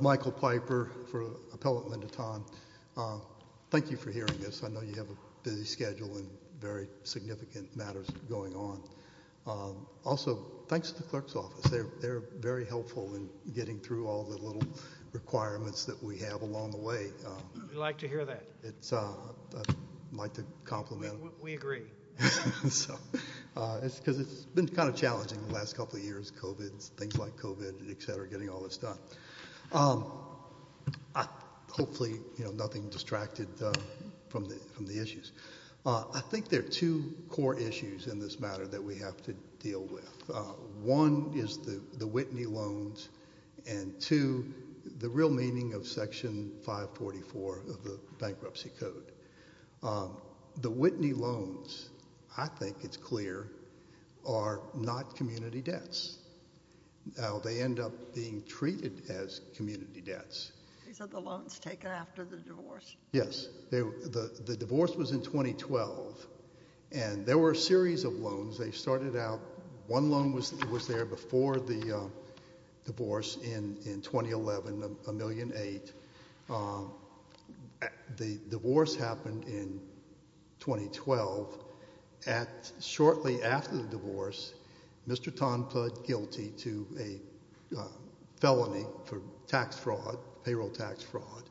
Michael Piper for Appellate Linda Ton. Thank you for hearing this. I know you have a busy schedule and very significant matters going on. Also, thanks to the clerk's office. They're very helpful in getting through all the little requirements that we have along the way. We like to hear that. I'd like to compliment them. We agree. It's been kind of challenging the last couple of years, COVID, things like COVID, et cetera, getting all this done. Hopefully, nothing distracted from the issues. I think there are two core issues in this matter that we have to deal with. One is the bankruptcy code. The Whitney loans, I think it's clear, are not community debts. Now, they end up being treated as community debts. These are the loans taken after the divorce? Yes. The divorce was in 2012, and there were a series of loans. They started out, one loan was there before the divorce in 2011, $1.8 million. The divorce happened in 2012. Shortly after the divorce, Mr. Ton pled guilty to a felony for payroll tax fraud.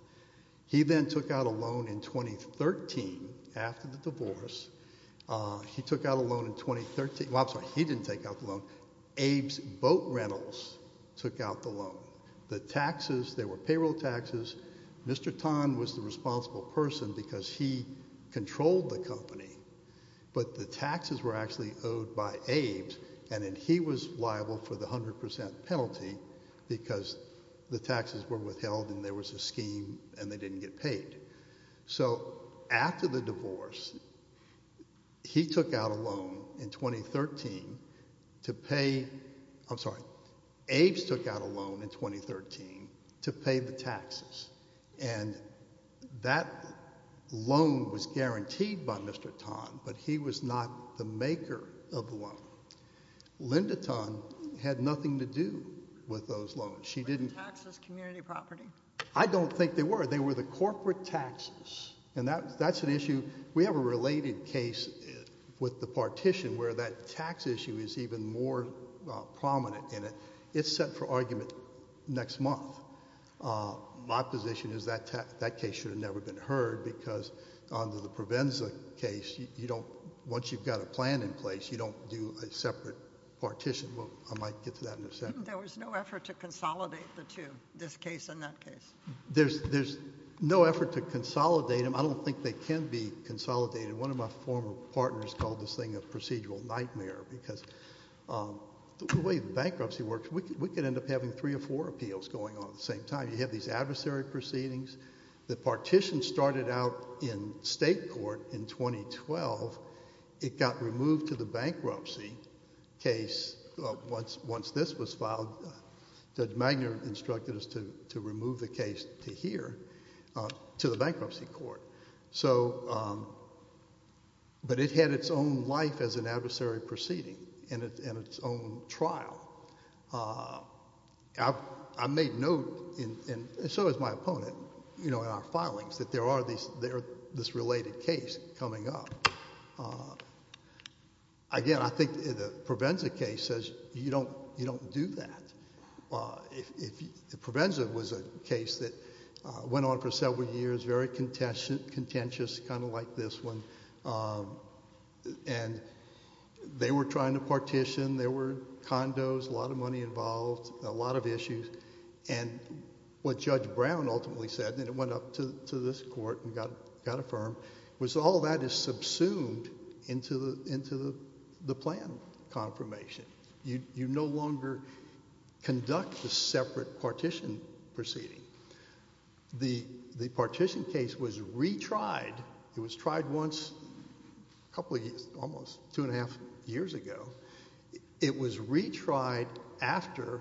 He then took out a loan in 2013. After the divorce, he took out a loan in 2013. I'm sorry, he didn't take out the loan. Abe's Boat Rentals took out the loan. The taxes, they were payroll taxes. Mr. Ton was the responsible person because he controlled the company, but the taxes were actually owed by Abe's, and then he was liable for the 100% penalty because the taxes were withheld and there was a scheme and they didn't get paid. So, after the divorce, he took out a loan in 2013 to pay, I'm sorry, Abe's took out a loan in 2013 to pay the taxes. That loan was guaranteed by Mr. Ton, but he was not the maker of the loan. Linda Ton had taxes, community property. I don't think they were. They were the corporate taxes, and that's an issue. We have a related case with the partition where that tax issue is even more prominent in it. It's set for argument next month. My position is that case should have never been heard because under the Provenza case, once you've got a plan in place, you don't do a separate partition. I might get to that in a second. There was no effort to consolidate the two, this case and that case. There's no effort to consolidate them. I don't think they can be consolidated. One of my former partners called this thing a procedural nightmare because the way the bankruptcy works, we could end up having three or four appeals going on at the same time. You have these adversary proceedings. The partition started out in state court in 2012. It got removed to the bankruptcy case once this was filed. Judge Magner instructed us to remove the case to here, to the bankruptcy court. But it had its own life as an adversary proceeding and its own trial. I made note, and so has my opponent, in our filings, that there are this related case coming up. Again, I think the Provenza case says you don't do that. Provenza was a case that went on for several years, very contentious, kind of like this one. They were trying to partition. There were condos, a lot of money involved, a lot of issues. And what Judge Brown ultimately said, and it went up to this court and got affirmed, was all that is subsumed into the plan confirmation. You no longer conduct the separate partition proceeding. The partition case was retried. It was tried once a couple of years, almost two and a half years ago. It was retried after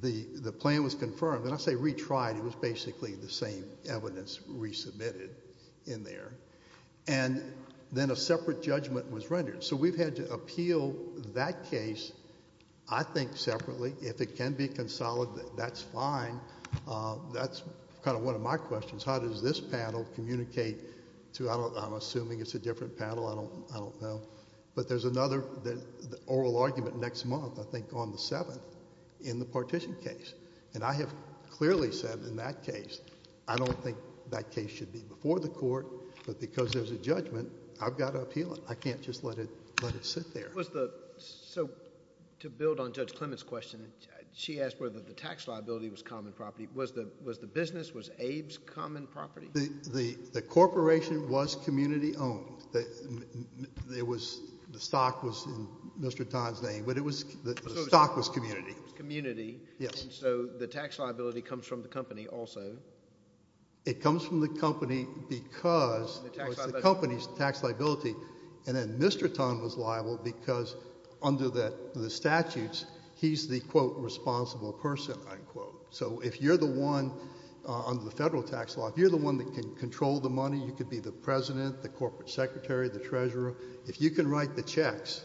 the plan was confirmed. When I say retried, it was basically the same evidence resubmitted in there. And then a separate judgment was rendered. So we've had to appeal that case, I think, separately. If it can be consolidated, that's fine. That's kind of one of my questions. How does this panel communicate? I'm assuming it's a different panel. I don't know. But there's another oral argument next month, I think on the 7th, in the partition case. And I have clearly said in that case, I don't think that case should be before the court, but because there's a judgment, I've got to appeal it. I can't just let it sit there. So to build on Judge Clement's question, she asked whether the tax liability was common property. Was the business, was Abe's, common property? The corporation was community-owned. The stock was in Mr. Tan's name, but the stock was community. Community. Yes. And so the tax liability comes from the company also. It comes from the company because it was the company's tax liability. And then Mr. Tan was under the federal tax law. If you're the one that can control the money, you could be the president, the corporate secretary, the treasurer. If you can write the checks,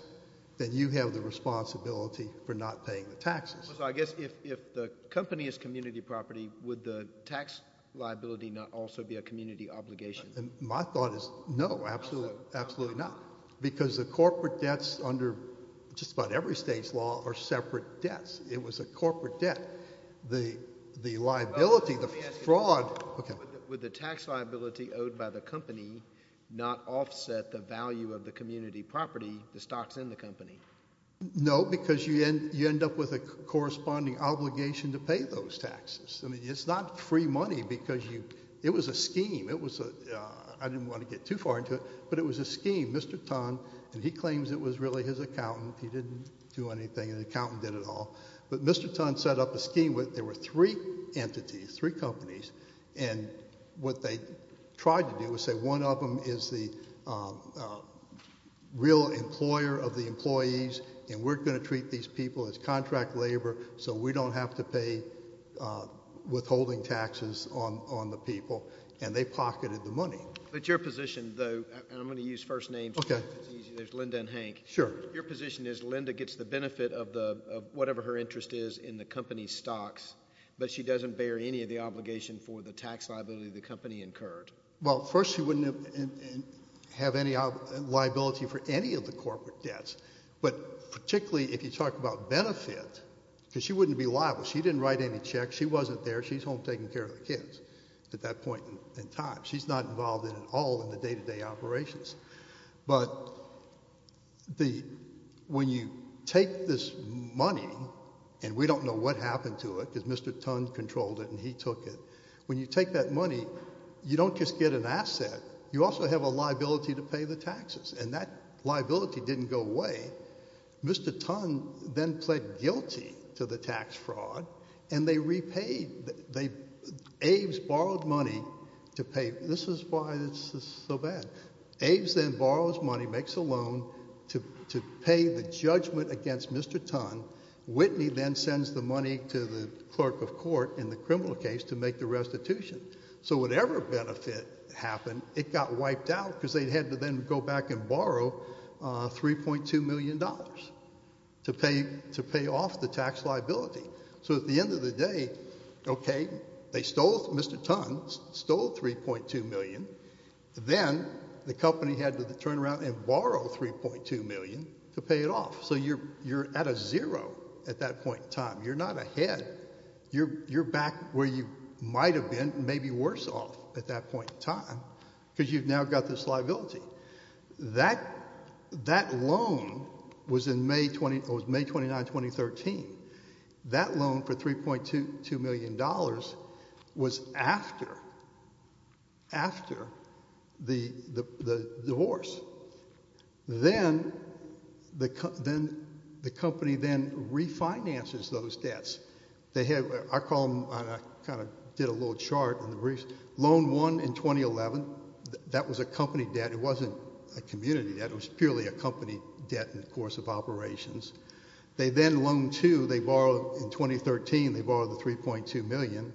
then you have the responsibility for not paying the taxes. So I guess if the company is community property, would the tax liability not also be a community obligation? My thought is no, absolutely not. Because the corporate debts under just about every state's law are separate debts. It was a corporate debt. The liability, the fraud. Okay. Would the tax liability owed by the company not offset the value of the community property, the stocks in the company? No, because you end up with a corresponding obligation to pay those taxes. I mean, it's not free money because it was a scheme. I didn't want to get too far into it, but it was a scheme. Mr. Tan, and he claims it was really his accountant, he didn't do anything, the accountant did it all. But Mr. Tan set up a scheme where there were three entities, three companies, and what they tried to do was say, one of them is the real employer of the employees, and we're going to treat these people as contract labor, so we don't have to pay withholding taxes on the people. And they pocketed the money. But your position, though, and I'm going to use first names, because it's easy, there's Linda and Hank. Sure. Your position is Linda gets the benefit of whatever her interest is in the company's stocks, but she doesn't bear any of the obligation for the tax liability the company incurred. Well, first, she wouldn't have any liability for any of the corporate debts, but particularly if you talk about benefit, because she wouldn't be liable. She didn't write any checks. She wasn't there. She's home taking care of the kids at that point in time. She's not involved at all in the day-to-day operations. But when you take this money, and we don't know what happened to it, because Mr. Tan controlled it and he took it, when you take that money, you don't just get an asset, you also have a liability to pay the taxes, and that liability didn't go away. Mr. Tan then pled guilty to the tax fraud, and they repaid, they, Aves borrowed money to pay, this is why this is so bad. Aves then borrows money, makes a loan to pay the judgment against Mr. Tan. Whitney then sends the money to the clerk of court in the criminal case to make the restitution. So whatever benefit happened, it got wiped out because they had to then go back and borrow $3.2 million to pay off the tax liability. So at the end of the day, okay, they stole, Mr. Tan stole $3.2 million, then the company had to turn around and borrow $3.2 million to pay it off. So you're at a zero at that point in time. You're not ahead. You're back where you might have been, maybe worse off at that point in time, because you've now got this $3.2 million was after the divorce. Then the company then refinances those debts. They have, I call them, I kind of did a little chart in the briefs, loan one in 2011, that was a company debt, it wasn't a community debt, it was purely a company debt in the course of operations. They then loan two, they borrowed in 2013, they borrowed the $3.2 million.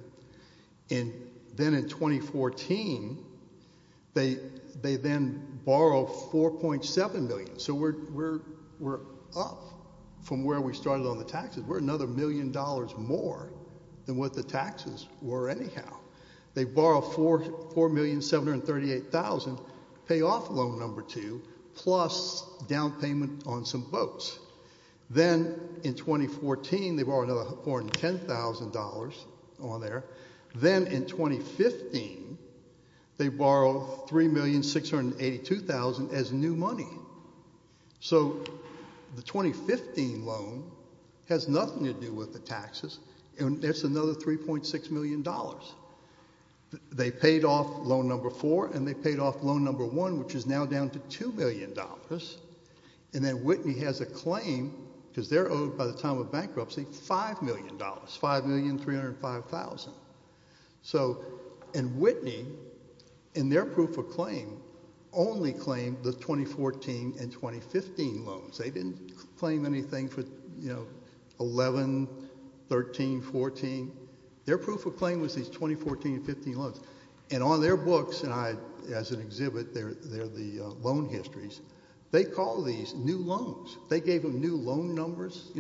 And then in 2014, they then borrow $4.7 million. So we're up from where we started on the taxes. We're another million dollars more than what the taxes were anyhow. They borrow $4,738,000 to pay off loan number two, plus down payment on some boats. Then in 2014, they borrow another $410,000 on there. Then in 2015, they borrow $3,682,000 as new money. So the 2015 loan has nothing to do with the taxes, and it's another $3.6 million. They paid off loan number four, and they paid off loan number one, which is now down to $2 million. And then Whitney has a claim, because they're owed by the time of bankruptcy $5 million, $5,305,000. And Whitney, in their proof of claim, only claimed the 2014 and 2015 loans. They didn't claim anything for 11, 13, 14. Their proof of claim was these 2014 and 2015 loans. And on their books, and as an exhibit, they're the loan histories, they call these new loans. They gave them new loan numbers.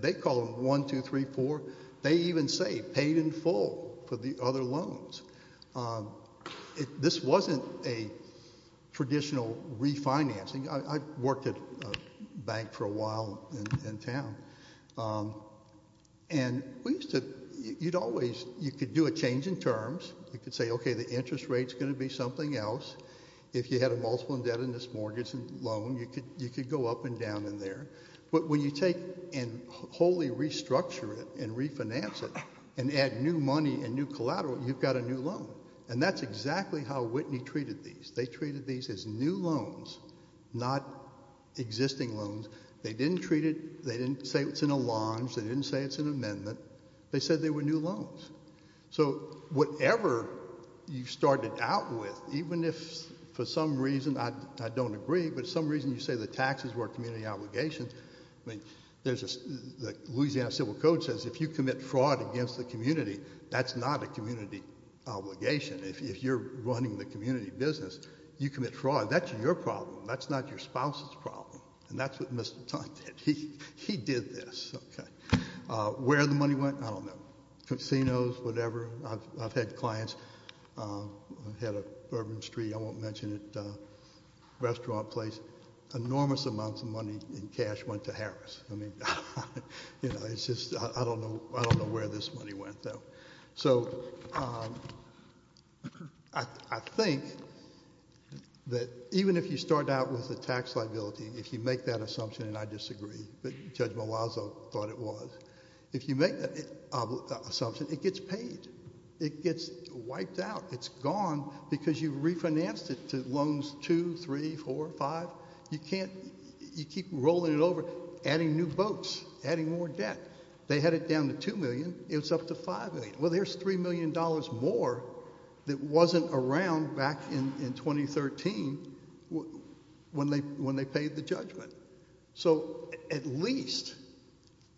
They call them one, two, three, four. They even say paid in full for the other loans. This wasn't a traditional refinancing. I worked at a bank for a while in town. And you could do a change in terms. You could say, okay, the interest rate's going to be something else. If you had a multiple indebtedness mortgage loan, you could go up and down in there. But when you take and wholly restructure it and refinance it and add new money and new collateral, you've got a new loan. And that's exactly how Whitney treated these. They treated these as new loans, not existing loans. They didn't treat it, they didn't say it's in a launch, they didn't say it's an amendment. They said they were new loans. So whatever you started out with, even if for some reason, I don't agree, but some reason you say the taxes were a community obligation, I mean, there's a, the Louisiana Civil Code says if you commit fraud against the community, that's not a community obligation. If you're running the community business, you commit fraud. That's your problem. That's not your spouse's problem. And that's what Mr. Tuck did. He did this. Okay. Where the money went, I don't know. Casinos, whatever. I've had clients, I've had a Bourbon Street, I won't mention it, restaurant place. Enormous amounts of money in cash went to Harris. I mean, you know, it's just, I don't know, I don't know where this money went though. So I think that even if you start out with a tax liability, if you make that assumption, and I disagree, but Judge Malazzo thought it was, if you make that assumption, it gets paid. It gets wiped out. It's gone because you refinanced it to loans, two, three, four, five. You can't, you keep rolling it over, adding new boats, adding more debt. They had it down to $2 million. It was up to $5 million. Well, there's $3 million more that wasn't around back in 2013 when they paid the judgment. So at least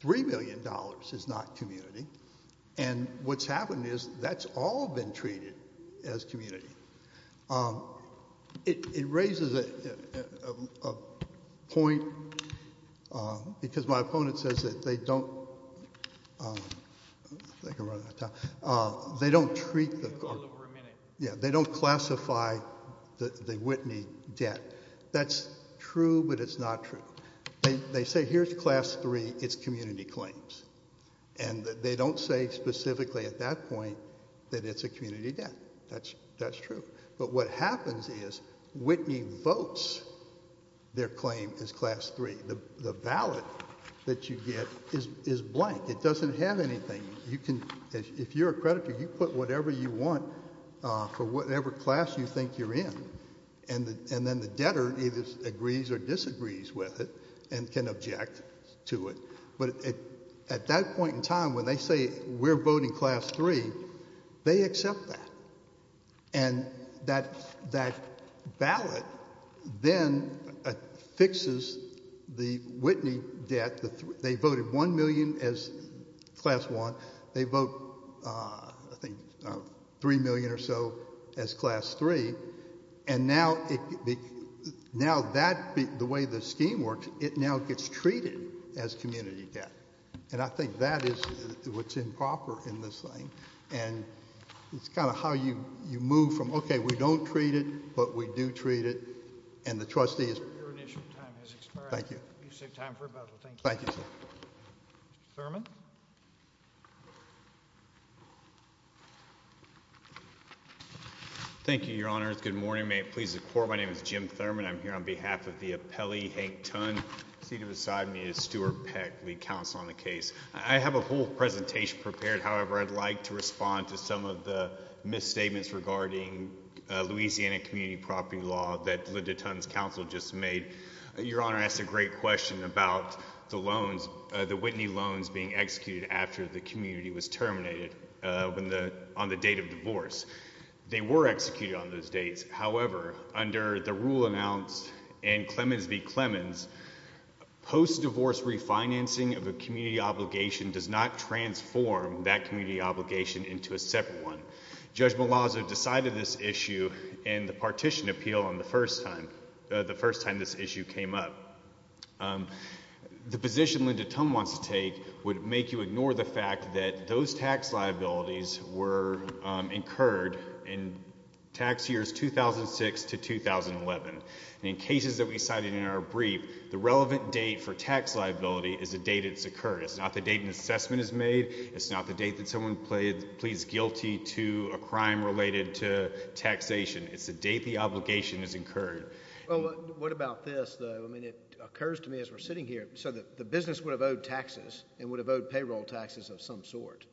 $3 million is not community. And what's happened is that's all been treated as community. It raises a point because my opponent says that they don't, they don't treat the, yeah, they don't classify the Whitney debt. That's true, but it's not true. They say here's class three, it's community claims. And they don't say specifically at that point that it's a community debt. That's true. But what happens is Whitney votes their claim as class three. The ballot that you get is blank. It doesn't have anything. You can, if you're a creditor, you put whatever you want for whatever class you think you're in. And then the debtor either agrees or disagrees with it and can object to it. But at that point in time when they say we're voting class three, they accept that. And that ballot then fixes the Whitney debt. They voted $1 million as class one. They vote, I think, $3 million or so as class three. And now that, the way the scheme works, it now gets treated as community debt. And I think that is what's improper in this thing. And it's kind of how you, you move from, okay, we don't treat it, but we do treat it. And the trustee is. Your initial time has expired. Thank you. You save time for rebuttal. Thank you. Thank you, sir. Mr. Thurmond. Thank you, your honors. Good morning. May it please the court, my name is Jim Thurmond. I'm here on behalf of the appellee Hank Tunn. Seated beside me is Stuart Peck, lead counsel on the case. I have a whole presentation prepared. However, I'd like to respond to some of the misstatements regarding Louisiana community property law that Linda Tunn's counsel just made. Your honor asked a great question about the loans, the Whitney loans being executed after the community was terminated on the date of divorce. They were executed on those dates. However, under the rule announced and Clemens v. Clemens, post-divorce refinancing of a community obligation does not transform that community obligation into a separate one. Judge Malazzo decided this issue in the partition appeal on the first time, the first time this issue came up. The position Linda Tunn wants to take would make you ignore the fact that those tax liabilities were incurred in tax years 2006 to 2011. In cases that we cited in our brief, the relevant date for tax liability is the date it's occurred. It's not the date an assessment is made. It's not the date that someone pleads guilty to a crime related to taxation. It's the date the obligation is incurred. Well, what about this though? I mean, it occurs to me as we're sitting here, so that the business would have owed taxes and would have owed payroll taxes of some sort,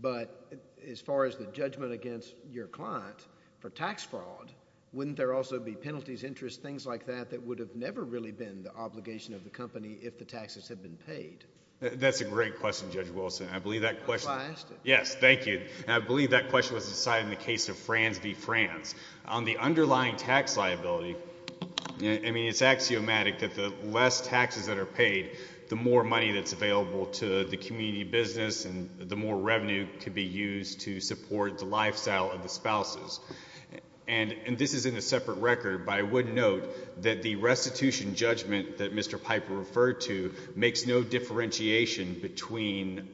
but as far as the judgment against your client for tax fraud, wouldn't there also be penalties, interest, things like that, that would have never really been the obligation of the company if the taxes had been paid? That's a great question, Judge Wilson. I believe that question was decided in the case of Frans v. Frans. On the underlying tax liability, I mean, it's axiomatic that the less taxes that are paid, the more money that's available to the community business and the more revenue could be used to support the lifestyle of the spouses. And this is in a separate record, but I would note that the restitution judgment that Mr. Piper referred to makes no differentiation between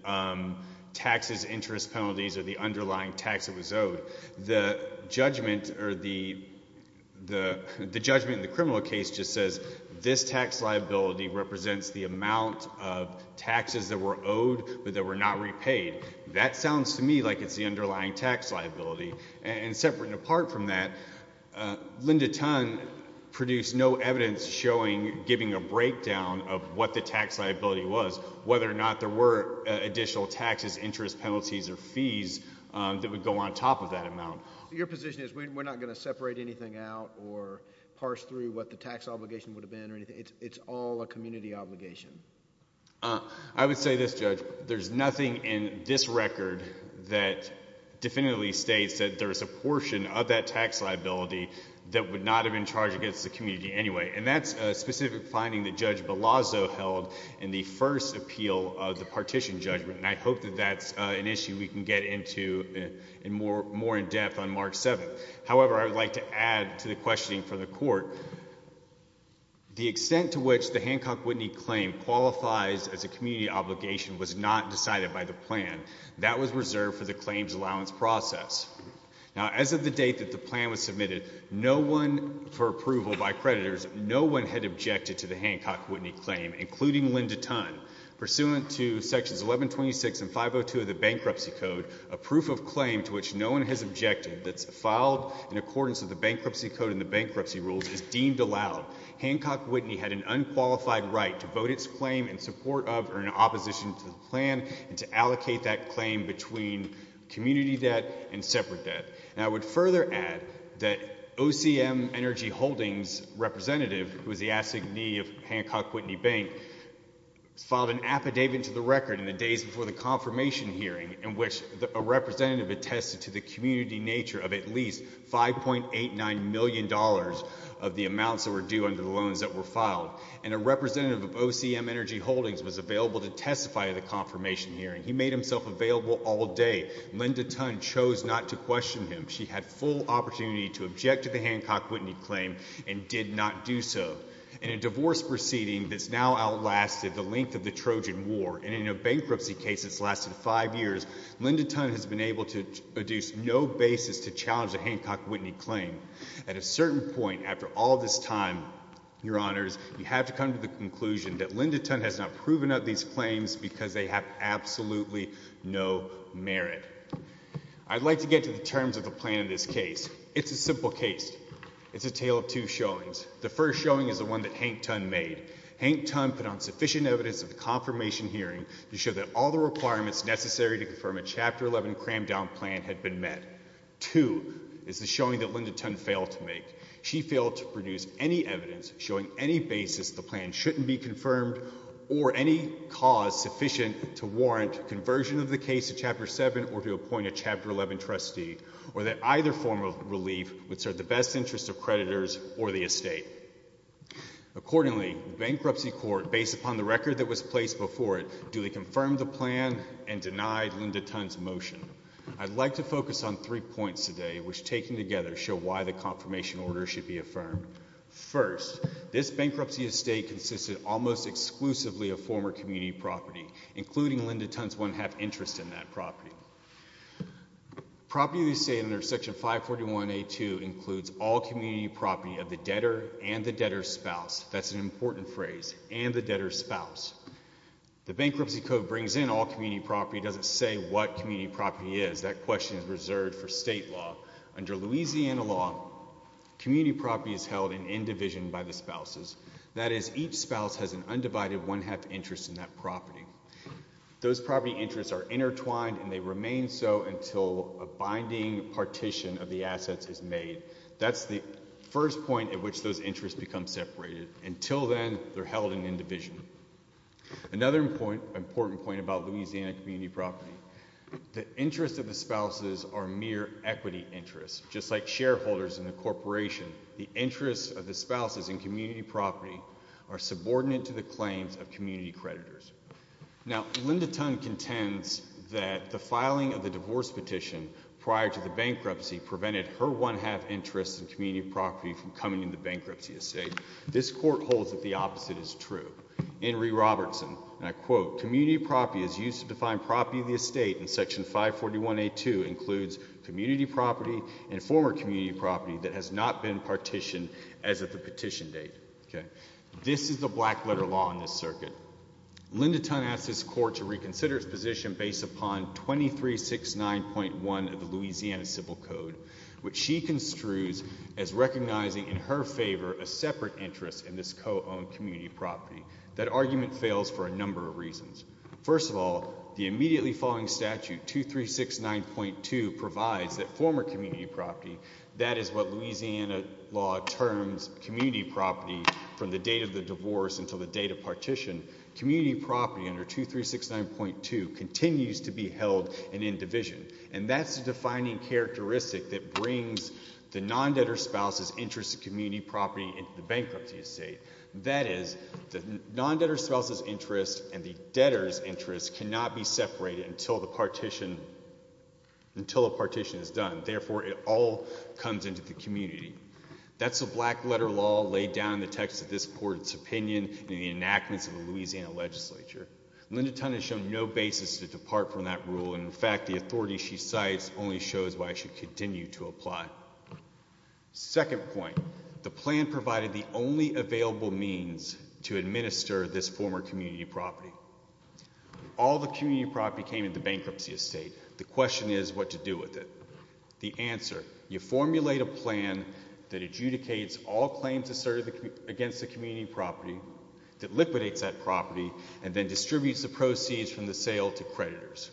taxes, interest penalties, or the underlying tax that was owed. The judgment in the criminal case just this tax liability represents the amount of taxes that were owed, but that were not repaid. That sounds to me like it's the underlying tax liability. And separate and apart from that, Linda Tunn produced no evidence showing, giving a breakdown of what the tax liability was, whether or not there were additional taxes, interest penalties, or fees that would go on top of that amount. Your position is we're not going to separate anything out or parse through the tax obligation would have been or anything. It's all a community obligation. I would say this, Judge. There's nothing in this record that definitively states that there's a portion of that tax liability that would not have been charged against the community anyway. And that's a specific finding that Judge Belazo held in the first appeal of the partition judgment. And I hope that that's an issue we can get into more in depth on Mark 7. However, I would like to add to the questioning from the Court, the extent to which the Hancock-Whitney claim qualifies as a community obligation was not decided by the plan. That was reserved for the claims allowance process. Now, as of the date that the plan was submitted, no one, for approval by creditors, no one had objected to the Hancock-Whitney claim, including Linda Tunn. Pursuant to sections 1126 and 502 of the Bankruptcy Code, a proof of claim to which no one has objected, that's filed in accordance with the Bankruptcy Code and the bankruptcy rules, is deemed allowed. Hancock-Whitney had an unqualified right to vote its claim in support of or in opposition to the plan and to allocate that claim between community debt and separate debt. And I would further add that OCM Energy Holdings representative, who is the assignee of Hancock-Whitney Bank, filed an affidavit to the record in the days before the confirmation hearing in which a at least $5.89 million of the amounts that were due under the loans that were filed. And a representative of OCM Energy Holdings was available to testify at the confirmation hearing. He made himself available all day. Linda Tunn chose not to question him. She had full opportunity to object to the Hancock-Whitney claim and did not do so. In a divorce proceeding that's now outlasted the length of the Trojan War, and in a bankruptcy case that's lasted five years, Linda Tunn has been able to deduce no basis to challenge the Hancock-Whitney claim. At a certain point after all this time, your honors, you have to come to the conclusion that Linda Tunn has not proven out these claims because they have absolutely no merit. I'd like to get to the terms of the plan in this case. It's a simple case. It's a tale of two showings. The first showing is the one that Hank Tunn made. Hank Tunn put on sufficient evidence at the confirmation hearing to show that all the requirements necessary to confirm a Chapter 11 crammed down plan had been met. Two is the showing that Linda Tunn failed to make. She failed to produce any evidence showing any basis the plan shouldn't be confirmed or any cause sufficient to warrant conversion of the case to Chapter 7 or to appoint a Chapter 11 trustee, or that either form of relief would serve the best interests of creditors or the estate. Accordingly, the bankruptcy court, based upon the record that was placed before it, duly confirmed the plan and denied Linda Tunn's motion. I'd like to focus on three points today which, taken together, show why the confirmation order should be affirmed. First, this bankruptcy estate consisted almost exclusively of former community property, including Linda Tunn's one-half interest in that property. Property of the estate under Section 541A2 includes all community property of the debtor and the debtor's spouse. That's an important phrase, and the debtor's spouse. The bankruptcy code brings in all community property. It doesn't say what community property is. That question is reserved for state law. Under Louisiana law, community property is held in end division by the spouses. That is, each spouse has an undivided one-half interest in that property. Those property interests are intertwined and they remain so until a binding partition of the assets is made. That's the first point at which those interests become separated. Until then, they're held in end division. Another important point about Louisiana community property, the interests of the spouses are mere equity interests. Just like shareholders in a corporation, the interests of the spouses in community property are subordinate to the claims of community creditors. Now, Linda Tunn contends that the filing of the divorce petition prior to the bankruptcy prevented her one-half interest in community property from coming into the bankruptcy estate. This court holds that the opposite is true. Henry Robertson, and I quote, community property is used to define property of the estate and Section 541A2 includes community property and former community property that has not been partitioned as of the petition date. This is the black letter law in this circuit. Linda Tunn asked this court to reconsider its 2369.1 of the Louisiana Civil Code, which she construes as recognizing in her favor a separate interest in this co-owned community property. That argument fails for a number of reasons. First of all, the immediately following statute 2369.2 provides that former community property, that is what Louisiana law terms community property from the date of the divorce until the date of partition, community property under 2369.2 continues to be held in indivision. And that's the defining characteristic that brings the non-debtor spouse's interest in community property into the bankruptcy estate. That is, the non-debtor spouse's interest and the debtor's interest cannot be separated until the partition, until a partition is done. Therefore, it all comes into the community. That's the black letter law laid down in the text of this court's opinion in the enactments of the Louisiana legislature. Linda Tunn has shown no basis to depart from that rule. And in fact, the authority she cites only shows why it should continue to apply. Second point, the plan provided the only available means to administer this former community property. All the community property came into bankruptcy estate. The question is what to do with it. The answer, you formulate a plan that adjudicates all claims asserted against the community property that liquidates that property and then distributes the proceeds from the sale to creditors.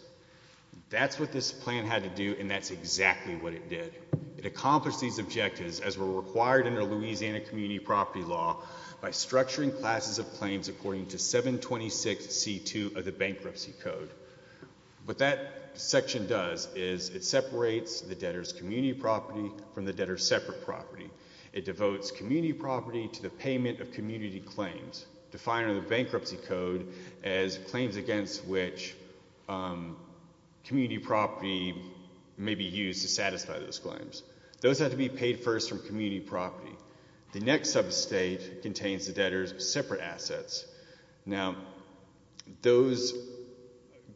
That's what this plan had to do, and that's exactly what it did. It accomplished these objectives as were required in the Louisiana community property law by structuring classes of claims according to 726C2 of the bankruptcy code. What that section does is it separates the debtor's community property from the debtor's separate property. It devotes community property to the payment of community claims, defining the bankruptcy code as claims against which community property may be used to satisfy those claims. Those have to be paid first from community property. The next sub-estate contains the debtor's separate assets. Now, those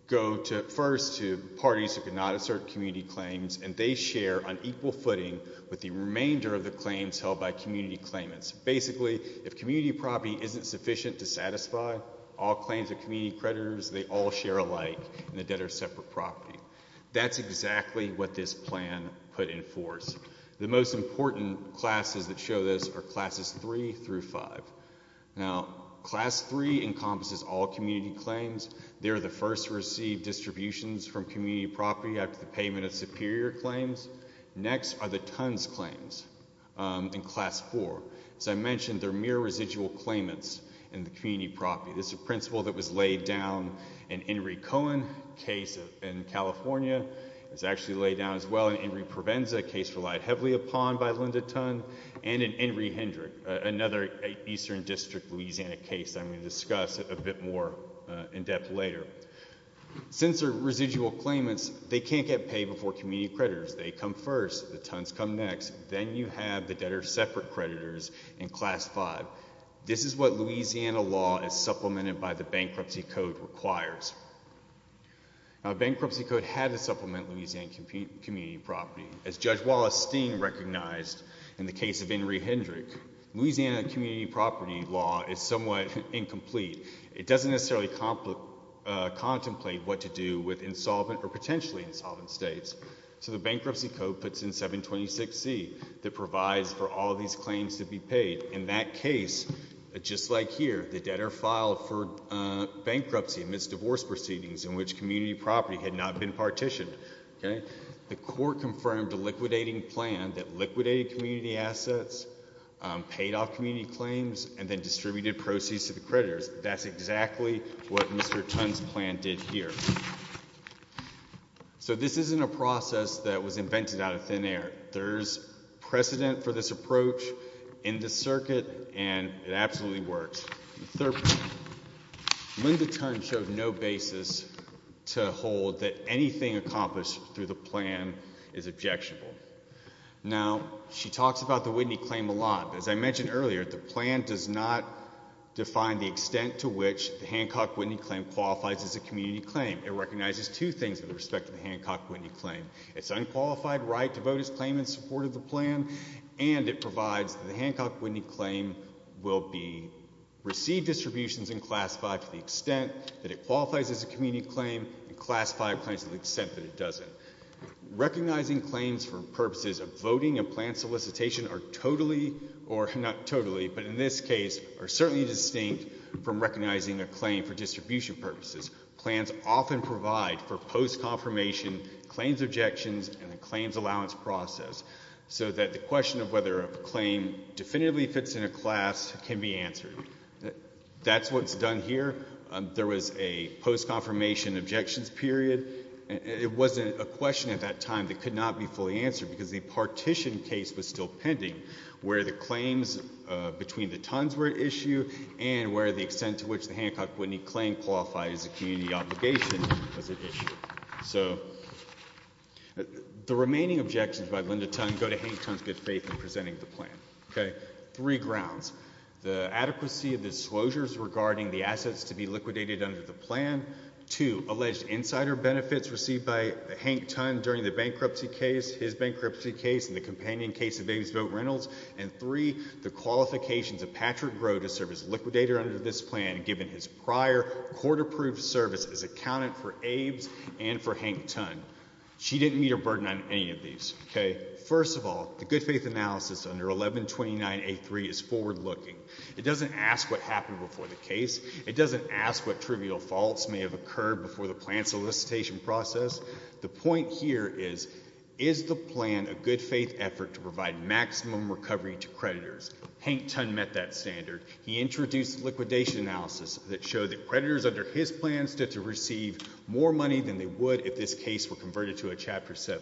go first to parties who cannot assert community claims, and they share on equal if community property isn't sufficient to satisfy, all claims of community creditors, they all share alike in the debtor's separate property. That's exactly what this plan put in force. The most important classes that show this are classes 3 through 5. Now, class 3 encompasses all community claims. They're the first to receive distributions from community property after the Tunn's claims in class 4. As I mentioned, they're mere residual claimants in the community property. This is a principle that was laid down in Henry Cohen's case in California. It's actually laid down as well in Henry Provenza, a case relied heavily upon by Linda Tunn, and in Henry Hendrick, another Eastern District Louisiana case I'm going to discuss a bit more in depth later. Since they're residual claimants, they can't get paid before community creditors. They come first, the Tunn's come next, then you have the debtor's separate creditors in class 5. This is what Louisiana law, as supplemented by the Bankruptcy Code, requires. Now, the Bankruptcy Code had to supplement Louisiana community property. As Judge Wallace Sting recognized in the case of Henry Hendrick, Louisiana community property law is somewhat incomplete. It doesn't necessarily contemplate what to do with insolvent or potentially insolvent states. So the Bankruptcy Code puts in 726C that provides for all these claims to be paid. In that case, just like here, the debtor filed for bankruptcy amidst divorce proceedings in which community property had not been partitioned. The court confirmed a liquidating plan that liquidated community assets, paid off community claims, and then distributed proceeds to the creditors. That's exactly what Mr. Tunn's plan did here. So this isn't a process that was invented out of thin air. There's precedent for this approach in the circuit, and it absolutely works. Linda Tunn showed no basis to hold that anything accomplished through the plan is objectionable. Now, she talks about the Whitney claim a lot, but as I mentioned earlier, the plan does not define the extent to which the Hancock-Whitney claim qualifies as a community claim. It recognizes two things with respect to the Hancock-Whitney claim. It's unqualified right to vote as claimant in support of the plan, and it provides that the Hancock-Whitney claim will be received distributions and classified to the extent that it qualifies as a community claim and classified claims to the extent that it doesn't. Recognizing claims for purposes of voting a plan solicitation are totally, or not totally, but in this case are certainly distinct from recognizing a claim for distribution purposes. Plans often provide for post-confirmation claims objections and a claims allowance process so that the question of whether a claim definitively fits in a class can be answered. That's what's done here. There was a post-confirmation objections period. It wasn't a question at that time that could not be fully answered because the partition case was pending where the claims between the Tunns were at issue and where the extent to which the Hancock-Whitney claim qualifies as a community obligation was at issue. So the remaining objections by Linda Tunn go to Hank Tunn's good faith in presenting the plan. Three grounds. The adequacy of the disclosures regarding the assets to be liquidated under the plan. Two, alleged insider benefits received by Hank Tunn during the bankruptcy case, his bankruptcy case and the companion case of Abesvote Reynolds. And three, the qualifications of Patrick Grove to serve as liquidator under this plan given his prior court approved service as accountant for Abes and for Hank Tunn. She didn't meet her burden on any of these. Okay. First of all, the good faith analysis under 1129A3 is forward looking. It doesn't ask what happened before the case. It doesn't ask what trivial faults may have occurred before the plan solicitation process. The point here is, is the plan a good faith effort to provide maximum recovery to creditors? Hank Tunn met that standard. He introduced liquidation analysis that showed that creditors under his plan stood to receive more money than they would if this case were converted to a Chapter 7.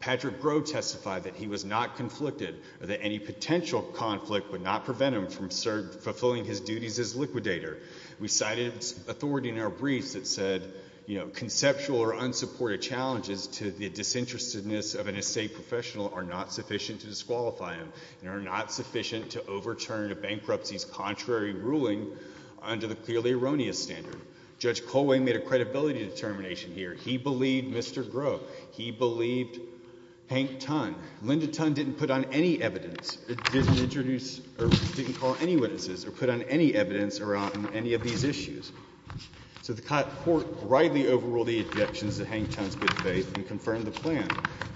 Patrick Grove testified that he was not conflicted or that any potential conflict would not prevent him from fulfilling his duties as liquidator. We cited authority in our briefs and said, you know, conceptual or unsupported challenges to the disinterestedness of an estate professional are not sufficient to disqualify him and are not sufficient to overturn a bankruptcy's contrary ruling under the clearly erroneous standard. Judge Colway made a credibility determination here. He believed Mr. Grove. He believed Hank Tunn. Linda Tunn didn't put on any evidence, didn't introduce or didn't call any witnesses or put on any evidence around any of these issues. So the court rightly overruled the objections that Hank Tunn's good faith and confirmed the plan.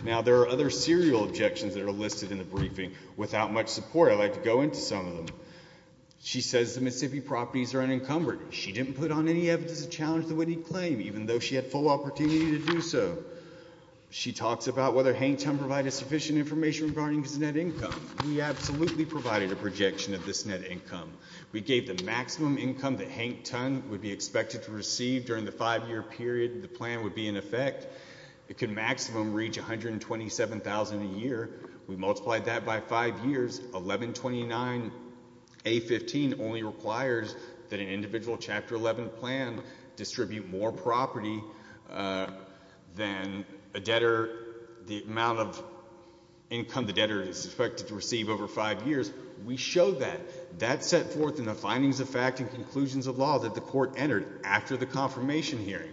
Now, there are other serial objections that are listed in the briefing. Without much support, I'd like to go into some of them. She says the Mississippi properties are unencumbered. She didn't put on any evidence to challenge the winning claim, even though she had full opportunity to do so. She talks about whether Hank Tunn provided sufficient information regarding his net income. We absolutely provided a projection of this net income. We gave the estimate that Hank Tunn would be expected to receive during the five-year period the plan would be in effect. It could maximum reach $127,000 a year. We multiplied that by five years. $1,129, A-15 only requires that an individual Chapter 11 plan distribute more property than a debtor, the amount of income the debtor is expected to receive over five years. We showed that. That's set forth in the findings of fact and conclusions of law that the court entered after the confirmation hearing.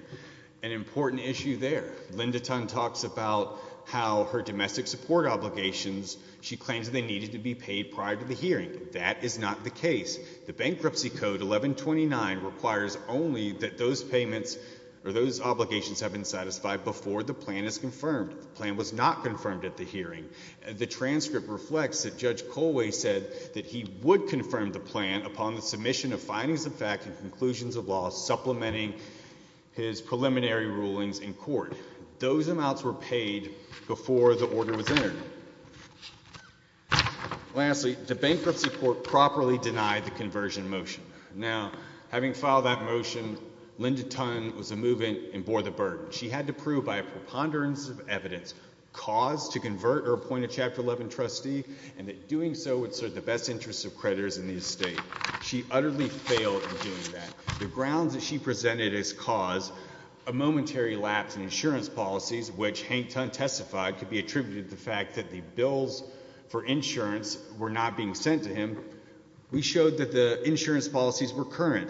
An important issue there, Linda Tunn talks about how her domestic support obligations, she claims they needed to be paid prior to the hearing. That is not the case. The bankruptcy code 1129 requires only that those payments or those obligations have been satisfied before the plan is confirmed. The plan was not confirmed at the hearing. The bankruptcy court said that he would confirm the plan upon the submission of findings of fact and conclusions of law supplementing his preliminary rulings in court. Those amounts were paid before the order was entered. Lastly, the bankruptcy court properly denied the conversion motion. Now, having filed that motion, Linda Tunn was a movement and bore the burden. She had to prove by a preponderance of evidence caused to convert or appoint a Chapter 11 trustee and that best interest of creditors in the estate. She utterly failed in doing that. The grounds that she presented as cause a momentary lapse in insurance policies, which Hank Tunn testified could be attributed to the fact that the bills for insurance were not being sent to him. We showed that the insurance policies were current.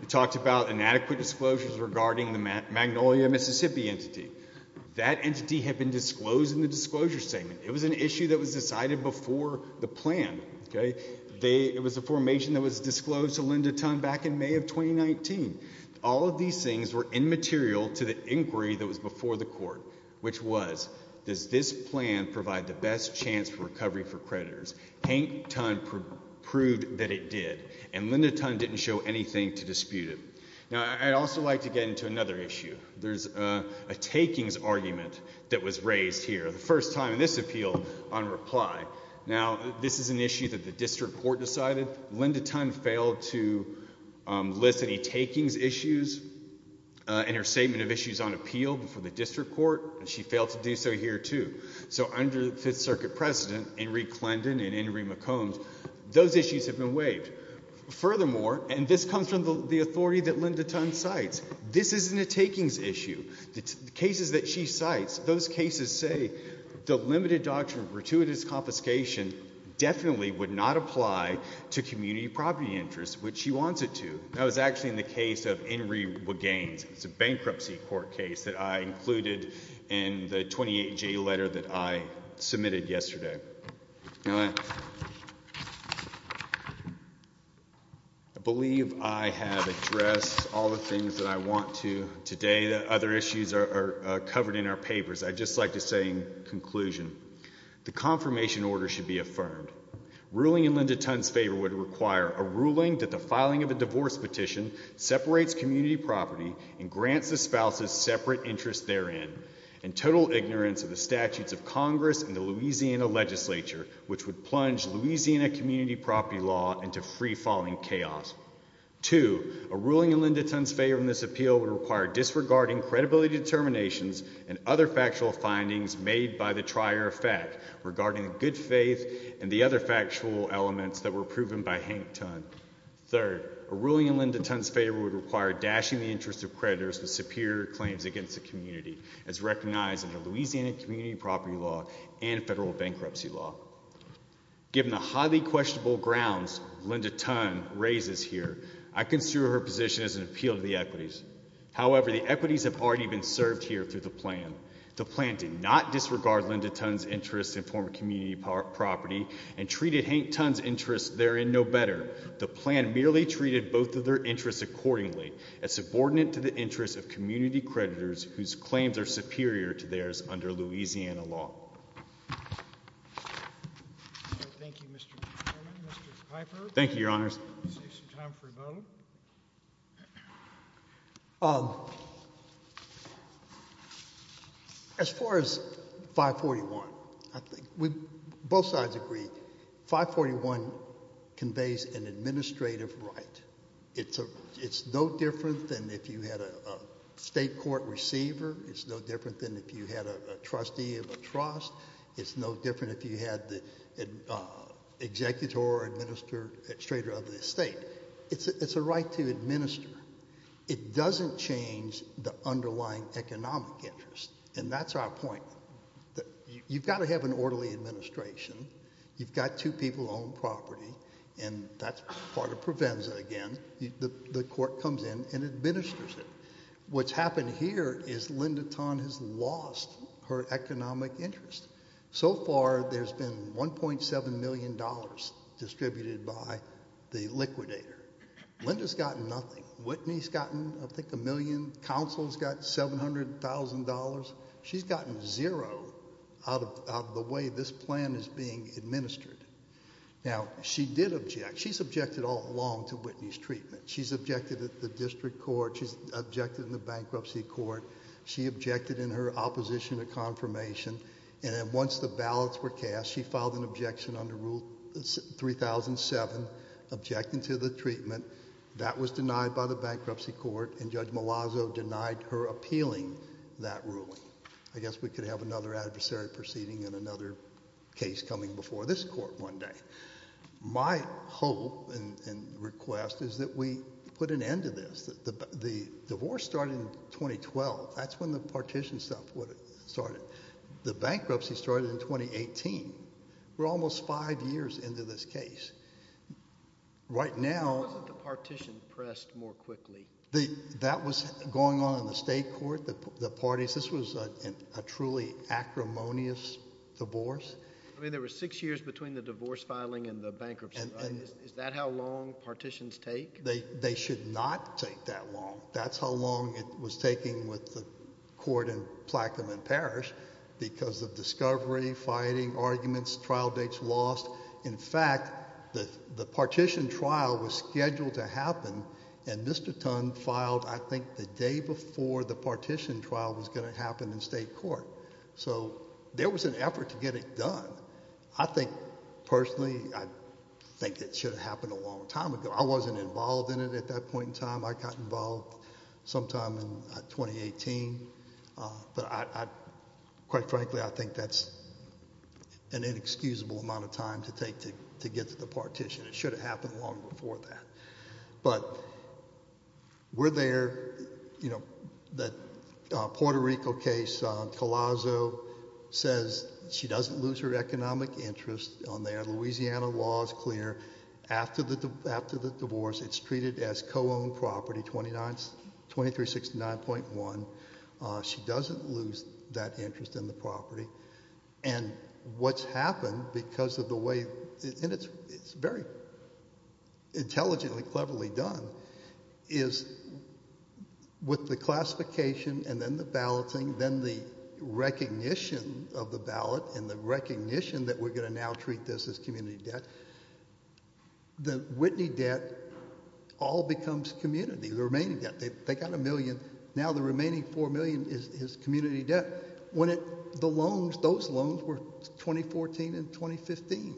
We talked about inadequate disclosures regarding the Magnolia, Mississippi entity. That entity had been disclosed in the disclosure statement. It was an issue that was decided before the plan. It was a formation that was disclosed to Linda Tunn back in May of 2019. All of these things were immaterial to the inquiry that was before the court, which was, does this plan provide the best chance for recovery for creditors? Hank Tunn proved that it did, and Linda Tunn didn't show anything to dispute it. Now, I'd also like to get into another issue. There's a takings argument that was raised here. The first time this appealed on reply. Now, this is an issue that the district court decided. Linda Tunn failed to list any takings issues in her statement of issues on appeal before the district court, and she failed to do so here, too. So, under the Fifth Circuit President, Enrique Clendon and Enrique McCombs, those issues have been waived. Furthermore, and this comes from the authority that Linda Tunn cites, this isn't a takings issue. The cases that she cites, those limited doctrine of gratuitous confiscation definitely would not apply to community property interest, which she wants it to. That was actually in the case of Enrique Wagenz. It's a bankruptcy court case that I included in the 28-J letter that I submitted yesterday. I believe I have addressed all the things that I want to The confirmation order should be affirmed. Ruling in Linda Tunn's favor would require a ruling that the filing of a divorce petition separates community property and grants the spouse's separate interest therein, and total ignorance of the statutes of Congress and the Louisiana legislature, which would plunge Louisiana community property law into free-falling chaos. Two, a ruling in Linda Tunn's favor in this appeal would require disregarding credibility determinations and other factual findings made by the trier of fact regarding the good faith and the other factual elements that were proven by Hank Tunn. Third, a ruling in Linda Tunn's favor would require dashing the interest of creditors with superior claims against the community as recognized in the Louisiana community property law and federal bankruptcy law. Given the highly questionable grounds Linda Tunn raises here, I consider her position as an appeal of the equities. However, the equities have already been served here through the plan. The plan did not disregard Linda Tunn's interests in former community property and treated Hank Tunn's interests therein no better. The plan merely treated both of their interests accordingly as subordinate to the interests of community creditors whose claims are superior to theirs under Louisiana law. Thank you, your honors. As far as 541, I think we both sides agree 541 conveys an administrative right. It's a it's no different than if you had a state court receiver. It's no different than if you had trustee of a trust. It's no different if you had the executor or administrator of the estate. It's a right to administer. It doesn't change the underlying economic interest and that's our point. You've got to have an orderly administration. You've got two people on property and that's part of Provenza again. The court comes in and administers it. What's happened here is Linda has lost her economic interest. So far there's been 1.7 million dollars distributed by the liquidator. Linda's gotten nothing. Whitney's gotten I think a million. Counsel's got $700,000. She's gotten zero out of the way this plan is being administered. Now she did object. She's objected all along to Whitney's treatment. She's objected at the district court. She's objected in bankruptcy court. She objected in her opposition to confirmation and then once the ballots were cast she filed an objection under rule 3007 objecting to the treatment. That was denied by the bankruptcy court and Judge Malazzo denied her appealing that ruling. I guess we could have another adversary proceeding and another case coming before this court one day. My hope and 2012 that's when the partition stuff would have started. The bankruptcy started in 2018. We're almost five years into this case. Right now. Wasn't the partition pressed more quickly? The that was going on in the state court. The parties this was a truly acrimonious divorce. I mean there were six years between the divorce filing and the bankruptcy. Is that how long was taking with the court in Plaquemine Parish? Because of discovery, fighting, arguments, trial dates lost. In fact the the partition trial was scheduled to happen and Mr. Tun filed I think the day before the partition trial was going to happen in state court. So there was an effort to get it done. I think personally I think it should have happened a long time ago. I wasn't involved in it at that point in time. I got involved sometime in 2018. But I quite frankly I think that's an inexcusable amount of time to take to get to the partition. It should have happened long before that. But we're there. You know that Puerto Rico case Colasso says she doesn't lose her economic interest on there. Louisiana law is clear. After the divorce it's treated as co-owned property 2369.1. She doesn't lose that interest in the property. And what's happened because of the way and it's very intelligently cleverly done is with the classification and then the balloting then the recognition of the ballot and the recognition that we're going to now treat this as community debt. The Whitney debt all becomes community. The remaining debt they got a million now the remaining four million is community debt. When it the loans those loans were 2014 and 2015.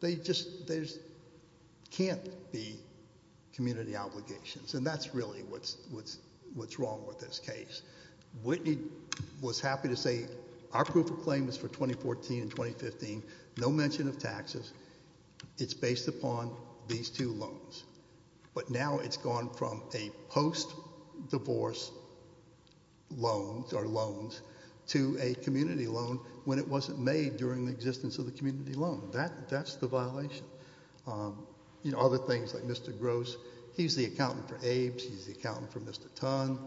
They just there's can't be community obligations and that's really what's wrong with this case. Whitney was happy to say our proof of claim is for 2014 and 2015. No mention of taxes. It's based upon these two loans. But now it's gone from a post-divorce loans or loans to a community loan when it wasn't made during the existence of the community loan. That that's the violation. You know other things like Mr. Gross he's the accountant for Abe's. He's the accountant for Mr. Dunn.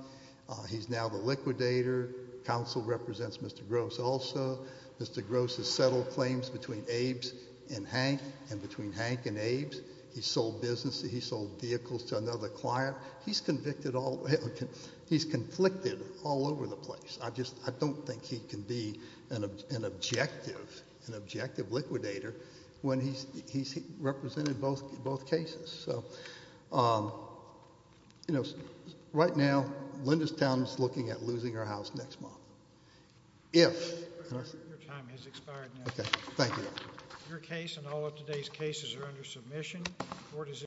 He's now the liquidator. Counsel represents Mr. Gross also. Mr. Gross has settled claims between Abe's and Hank and between Hank and Abe's. He sold business. He sold vehicles to another client. He's convicted all he's conflicted all over the place. I just I don't think he can be an objective an objective liquidator when he's he's represented both both cases. So um you know right now Linda's Town is looking at losing her house next month if your time has expired. Okay thank you. Your case and all of today's cases are under submission.